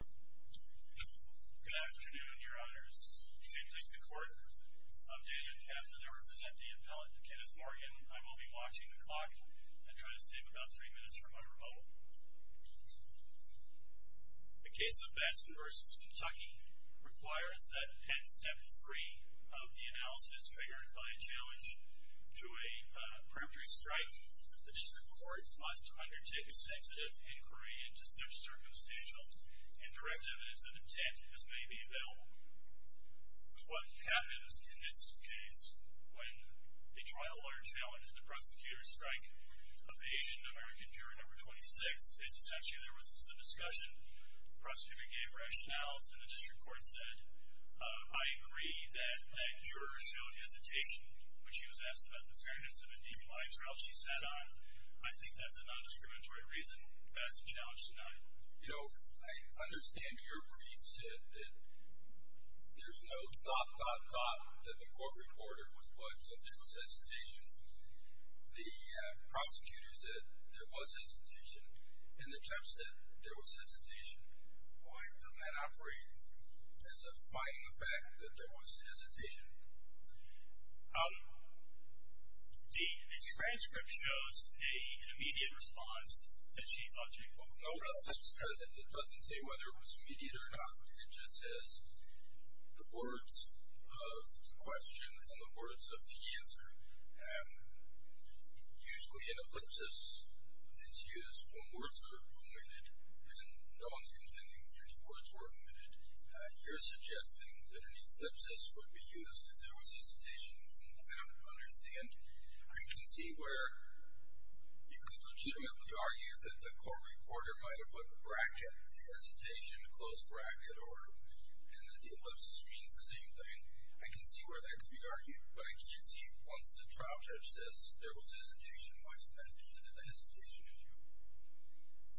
Good afternoon, your honors. This is the court. I'm David Kaplan. I represent the appellate Kenneth Morgan. I will be watching the clock and try to save about three minutes for my rebuttal. The case of Batson v. Kentucky requires that, at step three of the analysis triggered by a challenge to a periphery strike, the district court must undertake a sensitive inquiry into such circumstantial and direct evidence of intent as may be available. What happens in this case when the trial lawyer challenged the prosecutor's strike of the Asian-American juror No. 26 is essentially there was some discussion. The prosecutor gave rationales, and the district court said, I agree that that juror showed hesitation when she was asked about the fairness of a deep lie trial she sat on. I think that's a nondiscriminatory reason that has been challenged tonight. You know, I understand your brief said that there's no dot, dot, dot that the court recorder would put, so there was hesitation. The prosecutor said there was hesitation, and the judge said there was hesitation. Why doesn't that operate as a fighting effect that there was hesitation? The transcript shows an immediate response that she thought she would notice. It doesn't say whether it was immediate or not. It just says the words of the question and the words of the answer. Usually an ellipsis is used when words are omitted, and no one's contending that any words were omitted. You're suggesting that an ellipsis would be used if there was hesitation, and I don't understand. I can see where you could legitimately argue that the court reporter might have put a bracket, a hesitation, a closed bracket, and that the ellipsis means the same thing. I can see where that could be argued, but I can't see, once the trial judge says there was hesitation, why didn't that feed into the hesitation issue?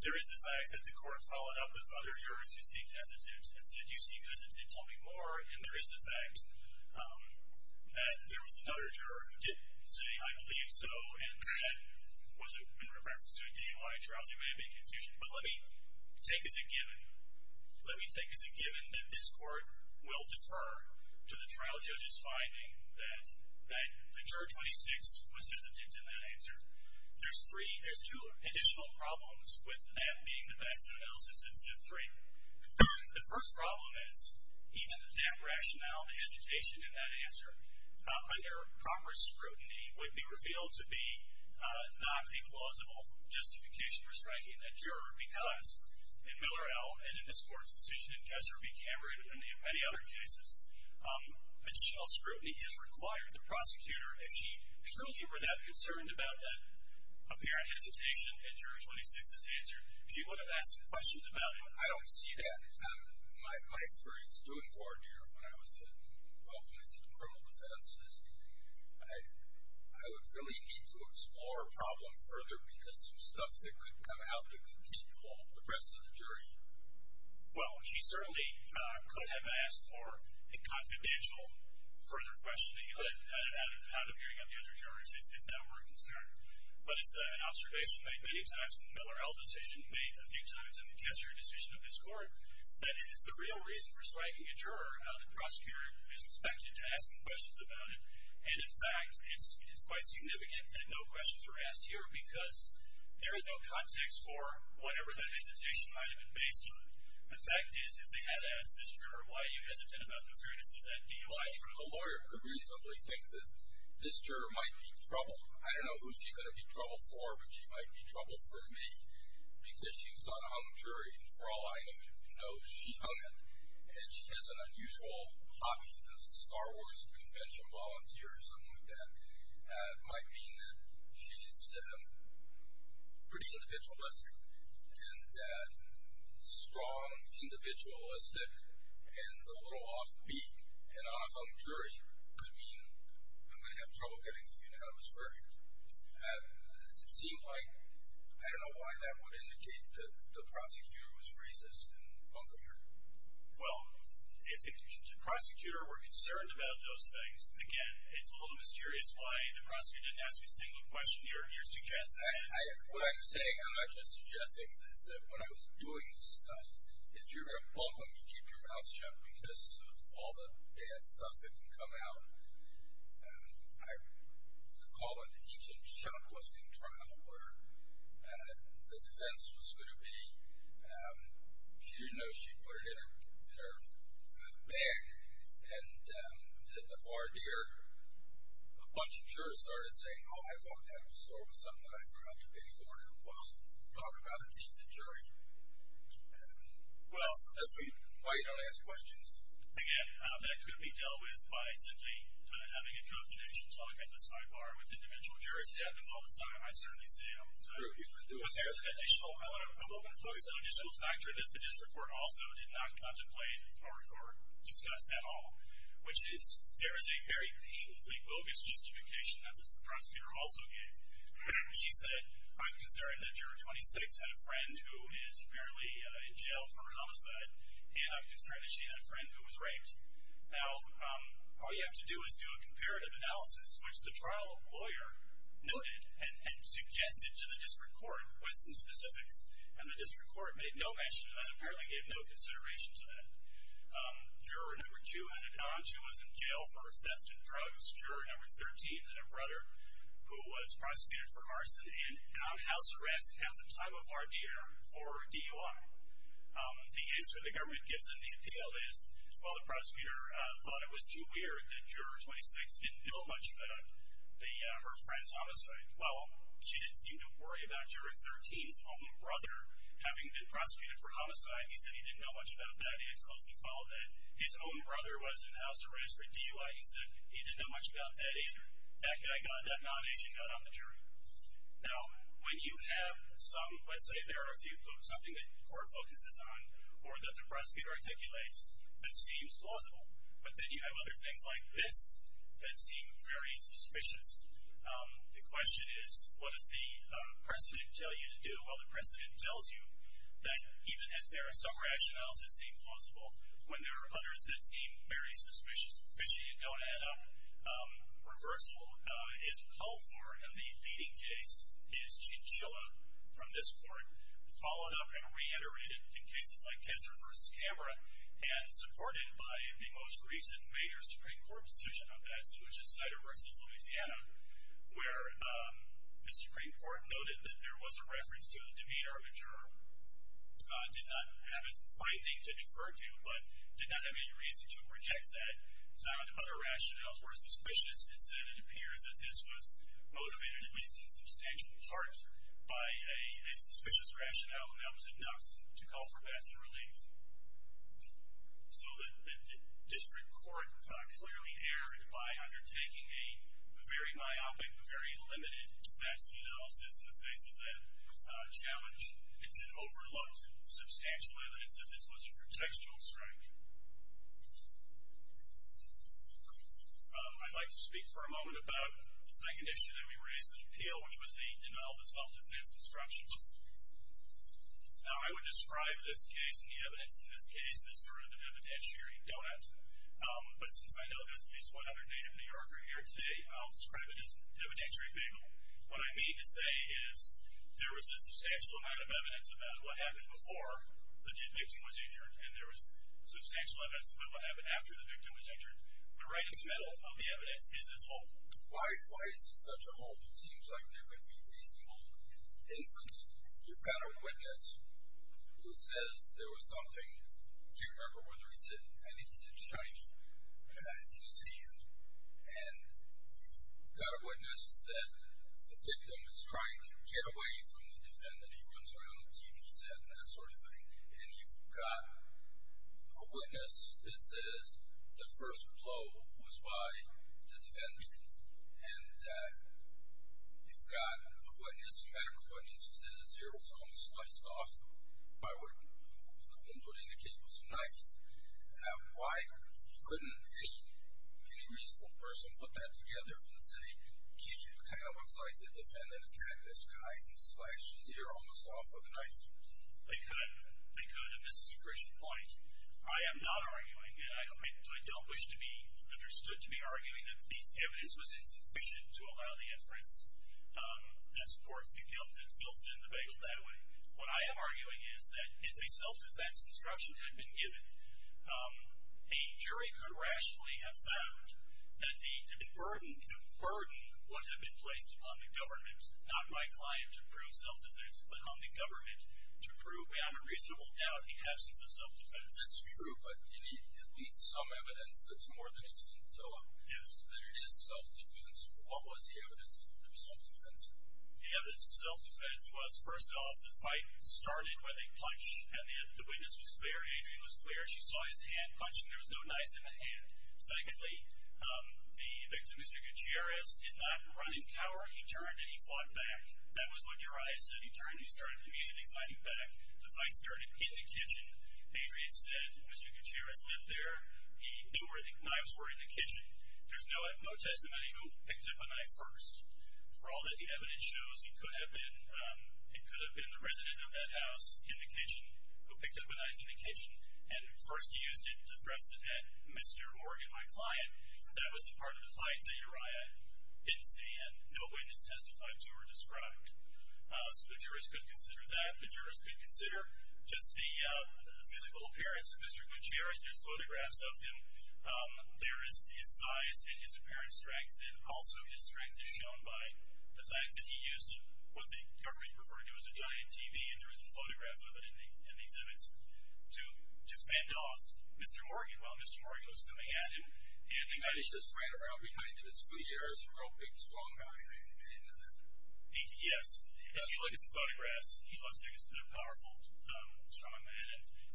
There is the fact that the court followed up with other jurors who seek hesitant and said, you seek hesitant, tell me more, and there is the fact that there was another juror who didn't say, I believe so, and that was in reference to a deep lie trial. There may have been confusion, but let me take as a given, let me take as a given that this court will defer to the trial judge's finding that the juror 26 was hesitant in that answer. There's three, there's two additional problems with that being the best analysis instead of three. The first problem is, even with that rationale, the hesitation in that answer, under Congress scrutiny, would be revealed to be not a plausible justification for striking a juror because, in Miller-Ell and in this court's decision in Kessler v. Cameron and in many other cases, additional scrutiny is required. The prosecutor, if she truly were that concerned about that apparent hesitation in juror 26's answer, she would have asked questions about it. I don't see that. My experience doing court here, when I was involved in criminal defense, I would really need to explore a problem further because some stuff that could come out that could keep the rest of the jury. Well, she certainly could have asked for a confidential further questioning out of hearing of the other jurors, if that were a concern. But it's an observation made many times in the Miller-Ell decision, made a few times in the Kessler decision of this court, that if it's the real reason for striking a juror, the prosecutor is expected to ask questions about it. And in fact, it's quite significant that no questions are asked here because there is no context for whatever that hesitation might have been based on. The fact is, if they had asked this juror, why are you hesitant about the fairness of that DUI? A lawyer could reasonably think that this juror might be trouble. I don't know who she's going to be trouble for, but she might be trouble for me because she was on a hung jury, and for all I know, she hung it, and she has an unusual hobby, the Star Wars convention volunteer or something like that. It might mean that she's pretty individualistic, and strong individualistic and a little offbeat, and on a hung jury could mean I'm going to have trouble getting a unit out of this version. It seemed like, I don't know why, that would indicate that the prosecutor was racist and bumpier. Well, if the prosecutor were concerned about those things, again, it's a little mysterious why the prosecutor didn't ask a single question. You're suggesting... What I'm saying, I'm not just suggesting, is that when I was doing this stuff, if you're going to bump them, you keep your mouth shut because of all the bad stuff that can come out. I recall an ancient shoplifting trial where the defense was going to be, she didn't know she'd put it in her bag, and at the bar there, a bunch of jurors started saying, oh, I thought that was something that I threw out to pay for to talk about the teeth injury. Well... Why you don't ask questions. Again, that could be dealt with by simply having a confidential talk at the sidebar with individual jurors. It happens all the time. I certainly see it all the time. But there's an additional, I'm only going to focus on an additional factor that the district court also did not contemplate or discuss at all, which is there is a very painfully bogus justification that this prosecutor also gave. She said, I'm concerned that juror 26 had a friend who is apparently in jail for a homicide, and I'm concerned that she had a friend who was raped. Now, all you have to do is do a comparative analysis, which the trial lawyer noted and suggested to the district court with some specifics, and the district court made no mention and apparently gave no consideration to that. Juror number two had an aunt who was in jail for theft and drugs, juror number 13 had a brother who was prosecuted for arson, and an aunt house arrest has a time of our dear for DUI. The answer the government gives in the appeal is, well, the prosecutor thought it was too weird that juror 26 didn't know much about her friend's homicide. Well, she didn't seem to worry about juror 13's own brother having been prosecuted for homicide. He said he didn't know much about that. He had closely followed that. His own brother was in house arrest for DUI. He said he didn't know much about that agent. That guy got, that non-agent got on the jury. Now, when you have some, let's say there are a few, something that court focuses on or that the prosecutor articulates that seems plausible, but then you have other things like this that seem very suspicious. The question is, what does the precedent tell you to do? Well, the precedent tells you that even if there are some rationales that seem plausible, when there are others that seem very suspicious, fishy and don't add up, reversal is called for, and the leading case is Chinchilla from this court, followed up and reiterated in cases like Kisser v. Camera and supported by the most recent major Supreme Court decision on that, which is Snyder v. Louisiana, where the Supreme Court noted that there was a reference to the demeanor of a juror, did not have a fighting to defer to, but did not have any reason to reject that. Some of the other rationales were suspicious and said it appears that this was motivated at least in substantial part by a suspicious rationale and that was enough to call for best relief. So the district court clearly erred by undertaking a very myopic, a very limited best analysis in the face of that challenge and overlooked substantial evidence that this was a contextual strike. I'd like to speak for a moment about the second issue that we raised in appeal, which was the denial of self-defense instructions. Now, I would describe this case and the evidence in this case as sort of an evidentiary donut, but since I know there's at least one other native New Yorker here today, I'll describe it as an evidentiary bingo. What I mean to say is there was a substantial amount of evidence about what happened before the victim was injured and there was substantial evidence about what happened after the victim was injured, but right in the middle of the evidence is this hold. Why is it such a hold? It seems like there could be reasonable evidence. You've got a witness who says there was something, I can't remember whether he said anything, in his hand, and you've got a witness that the victim is trying to get away from the defendant. He runs around the TV set and that sort of thing, and you've got a witness that says the first blow was by the defendant, and you've got a witness, a medical witness, who says that there was something sliced off. I would indicate it was a knife. Now, why couldn't any reasonable person put that together and say, gee, it kind of looks like the defendant had this guy and slashed his ear almost off with a knife? They could. They could, and this is a critical point. I am not arguing, and I don't wish to be understood to be arguing that this evidence was insufficient to allow the inference. This court's built in the bagel that way. What I am arguing is that if a self-defense instruction had been given, a jury could rationally have found that the burden would have been placed on the government, not my client to prove self-defense, but on the government to prove beyond a reasonable doubt the absence of self-defense. That's true, but at least some evidence that's more than a scintilla. If there is self-defense, what was the evidence for self-defense? The evidence for self-defense was, first off, the fight started with a punch, and the witness was clear. Adrienne was clear. She saw his hand punch, and there was no knife in the hand. Secondly, the victim, Mr. Gutierrez, did not run and cower. He turned and he fought back. That was what your eye said. He turned and he started immediately fighting back. The fight started in the kitchen. Adrienne said Mr. Gutierrez lived there. He knew where the knives were in the kitchen. There's no testimony who picked up a knife first. For all that the evidence shows, it could have been the resident of that house in the kitchen who picked up a knife in the kitchen and first used it to thrust it at Mr. or at my client. That was the part of the fight that your eye didn't see, and no witness testified to or described. So the jurors could consider that. The jurors could consider just the physical appearance of Mr. Gutierrez. There's photographs of him. There is his size and his apparent strength, and also his strength is shown by the fact that he used what the government referred to as a giant TV, and there is a photograph of it in the exhibits, to fend off Mr. Morgan while Mr. Morgan was coming at him. And he just ran around behind Mr. Gutierrez, a real big, strong guy. Yes. If you look at the photographs, he looks like a powerful, strong man,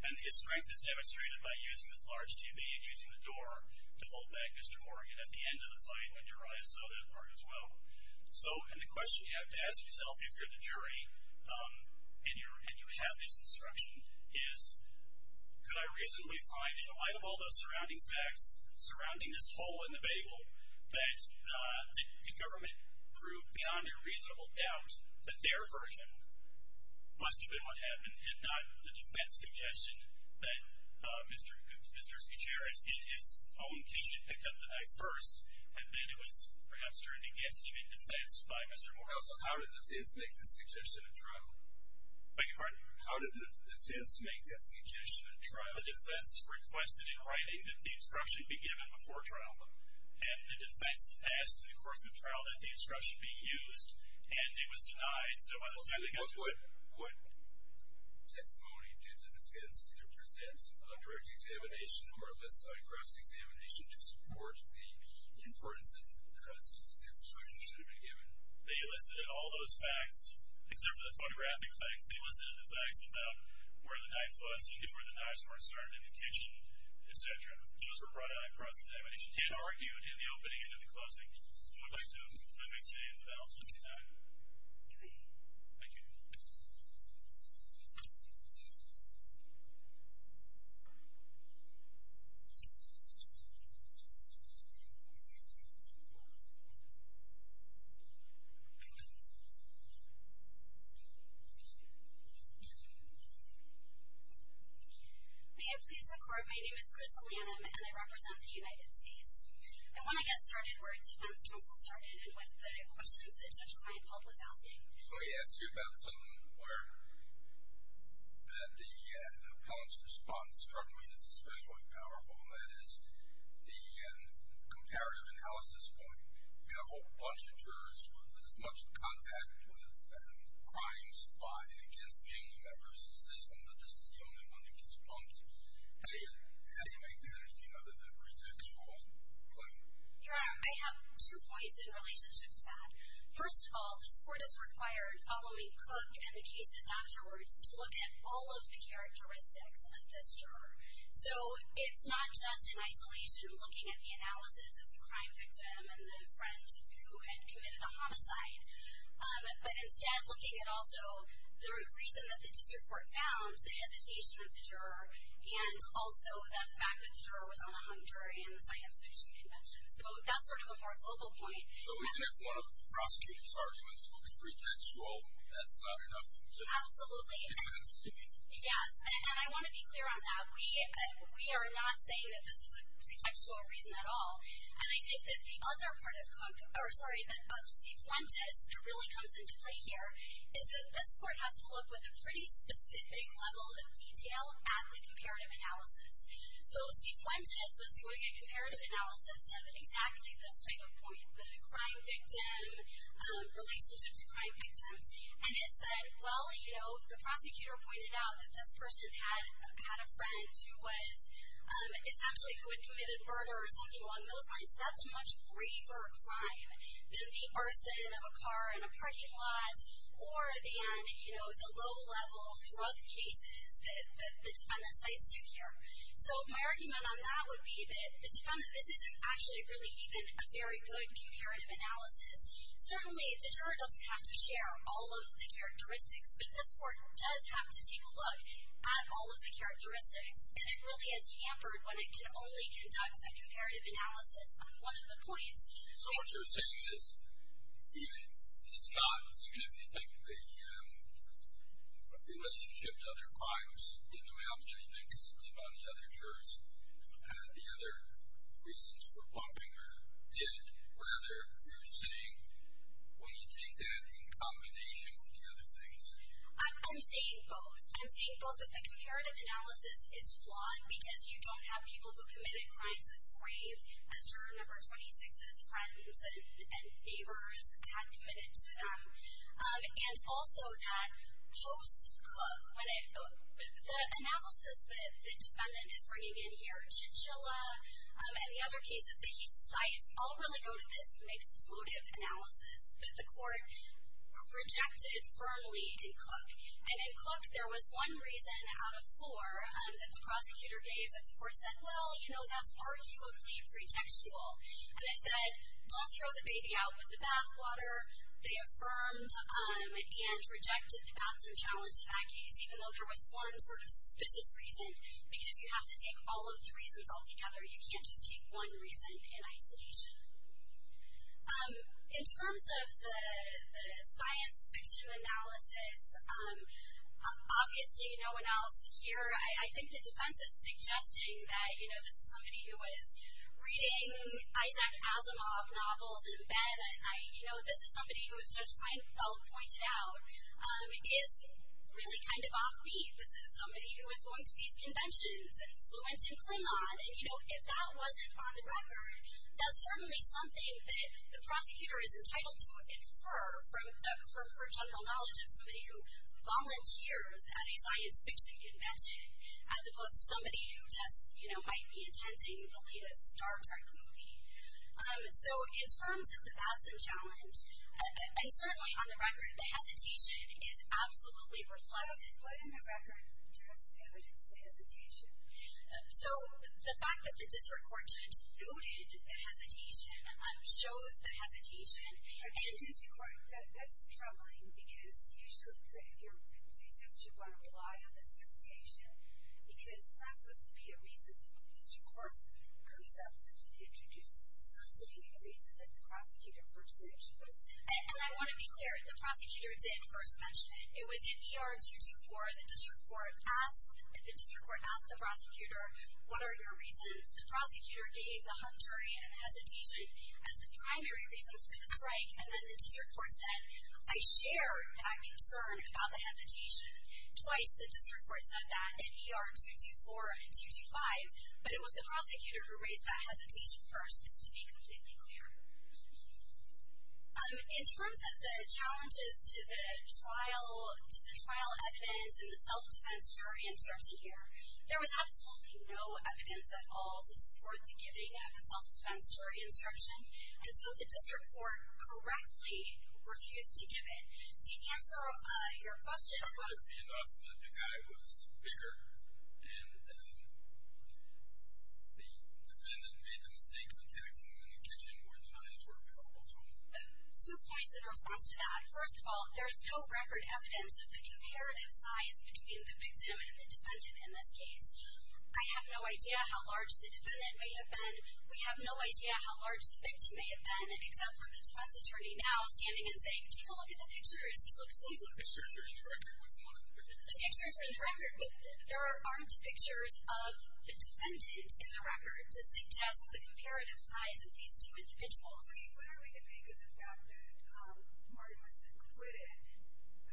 and his strength is demonstrated by using this large TV and using the door to hold back Mr. Morgan at the end of the fight when your eye is so that far as well. So, and the question you have to ask yourself if you're the jury and you have this instruction is, could I reasonably find in the light of all those surrounding facts, surrounding this hole in the bagel, that the government proved beyond a reasonable doubt that their version must have been what happened and not the defense suggestion that Mr. Gutierrez, in his own teaching, picked up the knife first, and then it was perhaps turned against him in defense by Mr. Morgan. So how did the defense make the suggestion in trial? Beg your pardon? How did the defense make that suggestion in trial? The defense requested in writing that the instruction be given before trial, and the defense asked in the course of trial that the instruction be used, and it was denied. What testimony did the defense either present on direct examination or elicit on cross-examination to support the inference that the instruction should have been given? They elicited all those facts, except for the photographic facts. They elicited the facts about where the knife was, where the knife was started in the kitchen, et cetera. Those were brought on cross-examination and argued in the opening and in the closing. Okay. I would like to let me say a little something to that end. Okay. Thank you. May I please record my name is Crystal Lanham, and I represent the United States. I want to get started where a defense counsel started and with the questions that Judge Kleinfeld was asking. Let me ask you about something where the appellant's response, certainly is especially powerful, and that is the comparative analysis point. We have a whole bunch of jurors with as much contact with crimes by and against family members as this one, but this is the only one that gets bumped. How do you make that any other than a pretext for claim? Your Honor, I have two points in relationship to that. First of all, this court has required, following Cook and the cases afterwards, to look at all of the characteristics of this juror. So it's not just in isolation looking at the analysis of the crime victim and the friend who had committed a homicide, but instead looking at also the reason that the district court found the hesitation of the juror and also the fact that the juror was on a hung jury in the science fiction convention. So that's sort of a more global point. So even if one of the prosecutor's arguments looks pretextual, that's not enough to conclude? Absolutely. Yes, and I want to be clear on that. We are not saying that this was a pretextual reason at all, and I think that the other part of Cook, or sorry, of C. Fuentes, that really comes into play here is that this court has to look with a pretty specific level of detail at the comparative analysis. So C. Fuentes was doing a comparative analysis of exactly this type of point, the crime victim relationship to crime victims, and it said, well, you know, the prosecutor pointed out that this person had a friend who was essentially who had committed murder or something along those lines. That's a much briefer crime than the arson of a car in a parking lot or than, you know, the low-level drug cases that the defendant cites to care. So my argument on that would be that this isn't actually really even a very good comparative analysis. Certainly the juror doesn't have to share all of the characteristics, but this court does have to take a look at all of the characteristics, and it really is hampered when it can only conduct a comparative analysis on one of the points. So what you're saying is even if you think the relationship to other crimes didn't amount to anything because it did on the other jurors, the other reasons for pumping are dead. What are you saying when you take that in combination with the other things? I'm saying both. I'm saying both that the comparative analysis is flawed because you don't have people who committed crimes as brave as juror number 26's friends and neighbors had committed to them. And also that post-Cook, the analysis that the defendant is bringing in here, Chinchilla and the other cases that he cites all really go to this mixed-motive analysis that the court rejected firmly in Cook. And in Cook there was one reason out of four that the prosecutor gave that the court said, well, you know, that's part of your claim pretextual. And it said, don't throw the baby out with the bathwater. They affirmed and rejected the bathroom challenge in that case, even though there was one sort of suspicious reason, because you have to take all of the reasons all together. You can't just take one reason in isolation. In terms of the science fiction analysis, obviously no one else here, I think the defense is suggesting that, you know, this is somebody who is reading Isaac Asimov novels in bed and, you know, this is somebody who, as Judge Kleinfeld pointed out, is really kind of offbeat. This is somebody who is going to these conventions and fluent in Klemot. And, you know, if that wasn't on the record, that's certainly something that the prosecutor is entitled to infer from her general knowledge of somebody who volunteers at a science fiction convention, as opposed to somebody who just, you know, might be attending the latest Star Trek movie. So in terms of the bathroom challenge, and certainly on the record, the hesitation is absolutely reflected. But in the record, just evidence of the hesitation. So the fact that the district court noted the hesitation shows the hesitation. I mean, the district court, that's troubling, because usually if you're going to apply on this hesitation, because it's not supposed to be a reason that the district court goes up and introduces it. It's supposed to be the reason that the prosecutor first mentioned it. And I want to be clear, the prosecutor did first mention it. It was in ER 224. The district court asked the prosecutor, what are your reasons? The prosecutor gave the hung jury a hesitation as the primary reasons for the strike, and then the district court said, I share that concern about the hesitation. Twice the district court said that in ER 224 and 225, but it was the prosecutor who raised that hesitation first, just to be completely clear. In terms of the challenges to the trial evidence and the self-defense jury instruction here, there was absolutely no evidence at all to support the giving of a self-defense jury instruction. And so the district court correctly refused to give it. To answer your question. The guy was bigger, and the defendant made the mistake of attacking him in the kitchen where the knives were available to him. Two points in response to that. First of all, there's no record evidence of the comparative size between the victim and the defendant in this case. I have no idea how large the defendant may have been. We have no idea how large the victim may have been, except for the defense attorney now standing and saying, take a look at the pictures. He looks. The pictures are in the record. There aren't pictures of the defendant in the record to suggest the comparative size of these two individuals. I mean, what are we to make of the fact that Martin was acquitted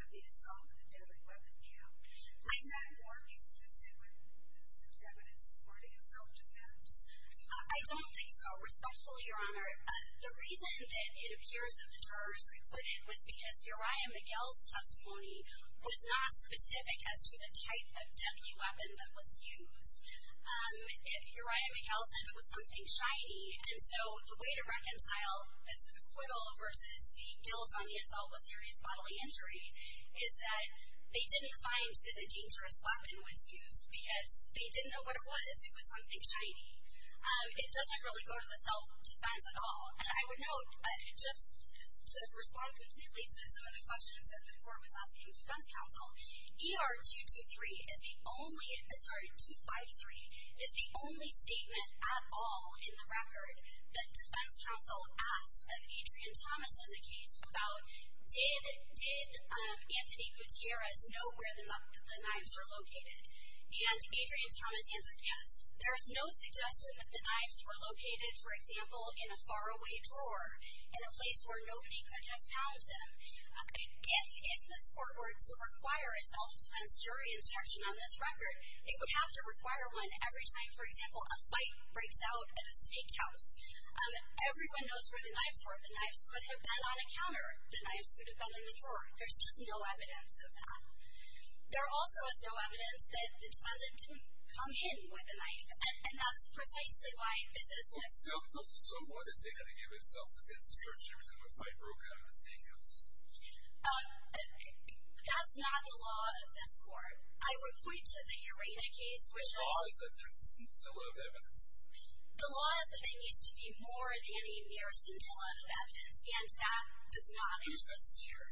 of the assault with a deadly weapon count? Is that more consistent with this evidence supporting a self-defense? I don't think so. Respectfully, Your Honor, the reason that it appears that the jurors acquitted was because Uriah Miguel's testimony was not specific as to the type of deadly weapon that was used. Uriah Miguel said it was something shiny. And so the way to reconcile this acquittal versus the guilt on the assault with serious bodily injury is that they didn't find that a dangerous weapon was used because they didn't know what it was. It was something shiny. It doesn't really go to the self-defense at all. And I would note, just to respond completely to some of the questions that the Court was asking defense counsel, ER 223 is the only, sorry, 253 is the only statement at all in the record that defense counsel asked of Adrian Thomas in the case about, did Anthony Gutierrez know where the knives were located? And Adrian Thomas answered yes. There's no suggestion that the knives were located, for example, in a faraway drawer in a place where nobody could have found them. If this Court were to require a self-defense jury instruction on this record, it would have to require one every time, for example, a fight breaks out at a steakhouse. Everyone knows where the knives were. The knives could have been on a counter. The knives could have been in the drawer. There's just no evidence of that. There also is no evidence that the defendant didn't come in with a knife, and that's precisely why this is necessary. So, what did they have to give in self-defense instruction if a fight broke out at a steakhouse? That's not the law of this Court. I would point to the Urena case, which has- The law is that there's a scintilla of evidence. The law is that there needs to be more than a mere scintilla of evidence, and that does not exist here.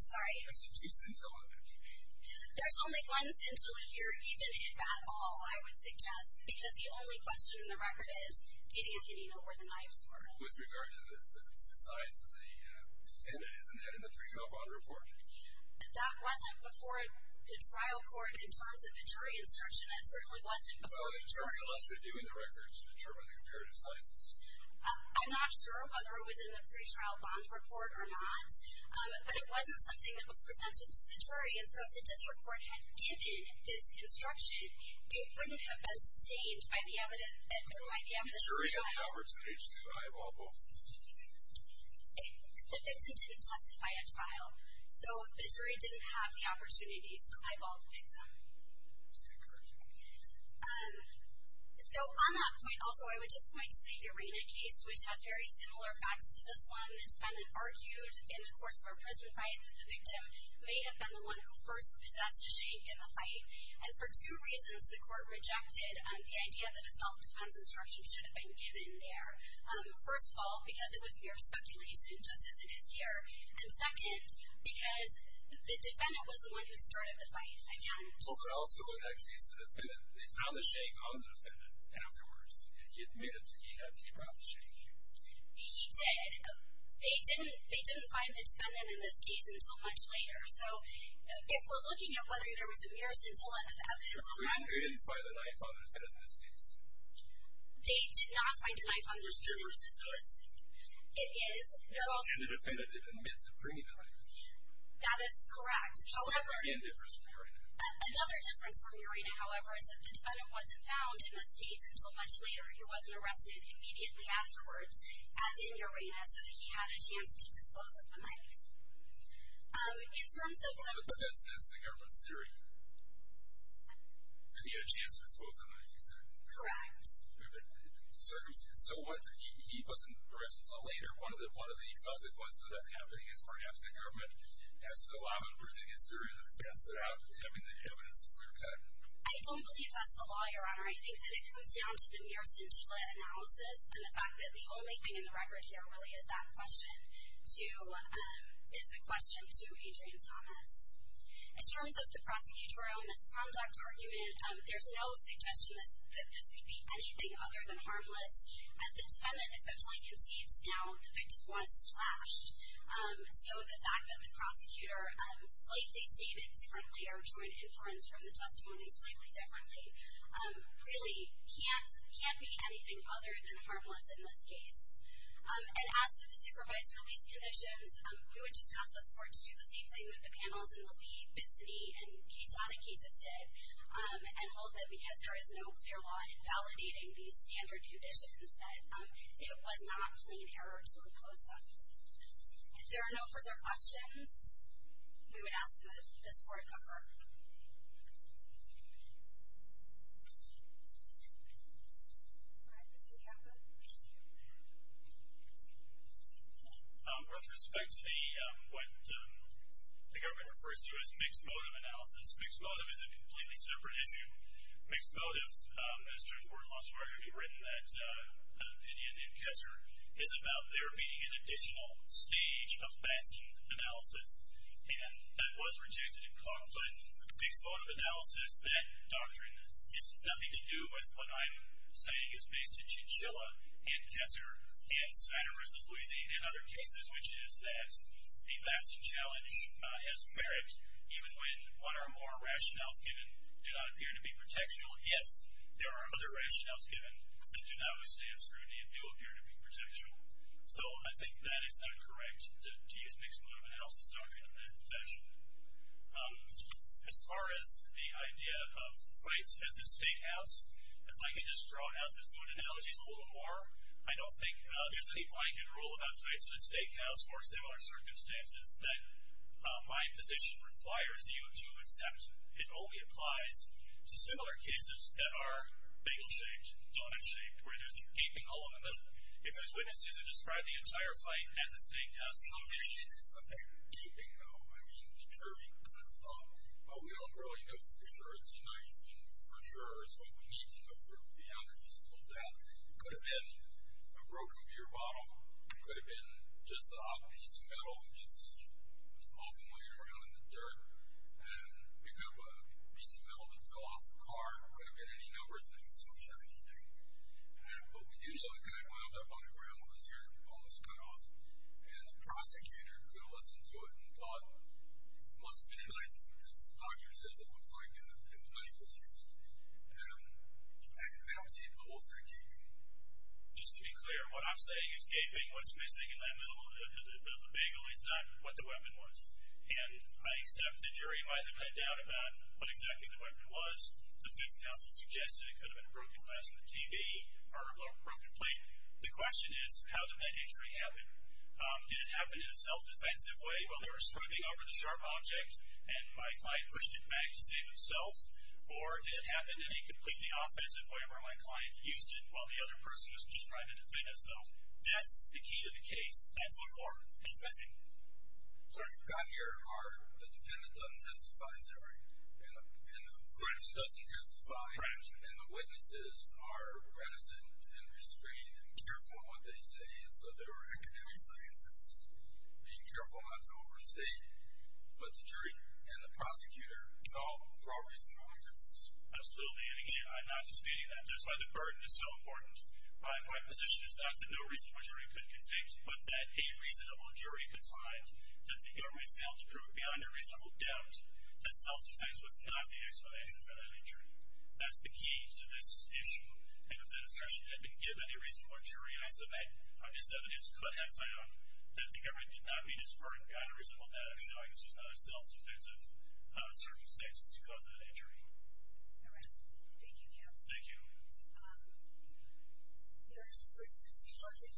Sorry? There's a two-scintilla of evidence. There's only one scintilla here, even if at all, I would suggest, because the only question in the record is, did Anthony know where the knives were? With regard to the size of the defendant, isn't that in the pre-trial bond report? That wasn't before the trial court in terms of a jury instruction. It certainly wasn't before the jury. Well, in terms of us reviewing the records to determine the comparative sizes. I'm not sure whether it was in the pre-trial bond report or not. But it wasn't something that was presented to the jury, and so if the district court had given this instruction, it wouldn't have been stained by the evidence. The jury had the opportunity to eyeball both. The victim didn't testify at trial, so the jury didn't have the opportunity to eyeball the victim. So on that point, also, I would just point to the Urena case, which had very similar facts to this one. The defendant argued in the course of a prison fight that the victim may have been the one who first possessed a shake in the fight. And for two reasons, the court rejected the idea that a self-defense instruction should have been given there. First of all, because it was mere speculation, just as it is here. And second, because the defendant was the one who started the fight. Again, just to clarify. Also, it actually says that they found the shake on the defendant afterwards. He admitted that he brought the shake. He did. They didn't find the defendant in this case until much later. So if we're looking at whether there was a mere scintillant of evidence or not. They didn't find a knife on the defendant in this case. They did not find a knife on the defendant in this case. It's true. It is. And the defendant didn't get the cream knife. That is correct. Which is, again, different from Urena. Another difference from Urena, however, is that the defendant wasn't found in this case until much later. He wasn't arrested immediately afterwards, as in Urena, so that he had a chance to dispose of the knife. But that's the government's theory. That he had a chance to dispose of the knife, you said? Correct. So he wasn't arrested until later. One of the consequences of that happening is perhaps the government has to allow him to present his theory in advance without having the evidence clearcut. I don't believe that's the law, Your Honor. I think that it comes down to the mere scintilla analysis, and the fact that the only thing in the record here really is that question, is the question to Adrian Thomas. In terms of the prosecutorial misconduct argument, there's no suggestion that this could be anything other than harmless, as the defendant essentially concedes now the victim was slashed. So the fact that the prosecutor slightly stated differently, or joined inference from the testimony slightly differently, really can't be anything other than harmless in this case. And as to the supervised release conditions, we would just ask this Court to do the same thing that the panels in the Lee, Bitson, and Kasada cases did, and hold that because there is no clear law invalidating these standard conditions, that it was not plain error to impose them. If there are no further questions, we would ask this Court to defer. All right, Mr. Caput. With respect to what the government refers to as mixed motive analysis, mixed motive is a completely separate issue. Mixed motive, as Judge Gordon-Lazaru already written, that opinion in Kessler, is about there being an additional stage of Batson analysis, and that was rejected in Coughlin. Mixed motive analysis, that doctrine, has nothing to do with what I'm saying is based in Chinchilla, and Kessler, and Santa Rosa, Louisiana, and other cases, which is that the Batson challenge has merit, even when one or more rationales given do not appear to be protectual, yet there are other rationales given that do not withstand scrutiny and do appear to be protectual. So I think that is not correct, to use mixed motive analysis doctrine in that fashion. As far as the idea of fights at the steakhouse, if I could just draw out the food analogies a little more, I don't think there's any blanket rule about fights at a steakhouse or similar circumstances that my position requires you to accept. It only applies to similar cases that are bagel-shaped, donut-shaped, where there's a gaping hole in the middle. If there's witnesses that describe the entire fight as a steakhouse competition. It's not that gaping, though. I mean, the jury kind of thought, well, we don't really know for sure, it's a knife, and for sure it's what we need to know for the analogies to hold out. It could have been a broken beer bottle. It could have been just the odd piece of metal that gets off and laying around in the dirt. It could have been a piece of metal that fell off a car. It could have been any number of things. I'm sure it will be. But we do know it kind of wound up on the ground, was here on the spot, and the prosecutor could have listened to it and thought it must have been a knife because the doctor says it looks like a knife was used. I don't see the whole thing gaping. Just to be clear, what I'm saying is gaping, what's missing in that middle of the bagel is not what the weapon was. And I accept the jury might have had doubt about what exactly the weapon was. The defense counsel suggested it could have been a broken glass from the TV or a broken plate. The question is, how did that injury happen? Did it happen in a self-defensive way while they were stripping over the sharp object and my client pushed it back to save himself, or did it happen in a completely offensive way where my client used it while the other person was just trying to defend himself? That's the key to the case. Thanks a lot, Mark. Thanks, Bessie. Sir, you've gotten here. The defendant doesn't testify, is that right? And the witness doesn't testify. And the witnesses are reticent and restrained and careful in what they say as though they were academic scientists, being careful not to overstate what the jury and the prosecutor know for all reasonable reasons. Absolutely. And, again, I'm not disputing that. That's why the burden is so important. My position is not that no reasonable jury could convict, but that a reasonable jury could find that the government failed to prove beyond a reasonable doubt that self-defense was not the explanation for that injury. That's the key to this issue. And if the discretion had been given, a reasonable jury I submit on this evidence could have found that the government did not meet its burden on a reasonable doubt of showing this was not a self-defensive circumstance as to the cause of that injury. All right. Thank you, counsel. Thank you. Thank you. Thank you.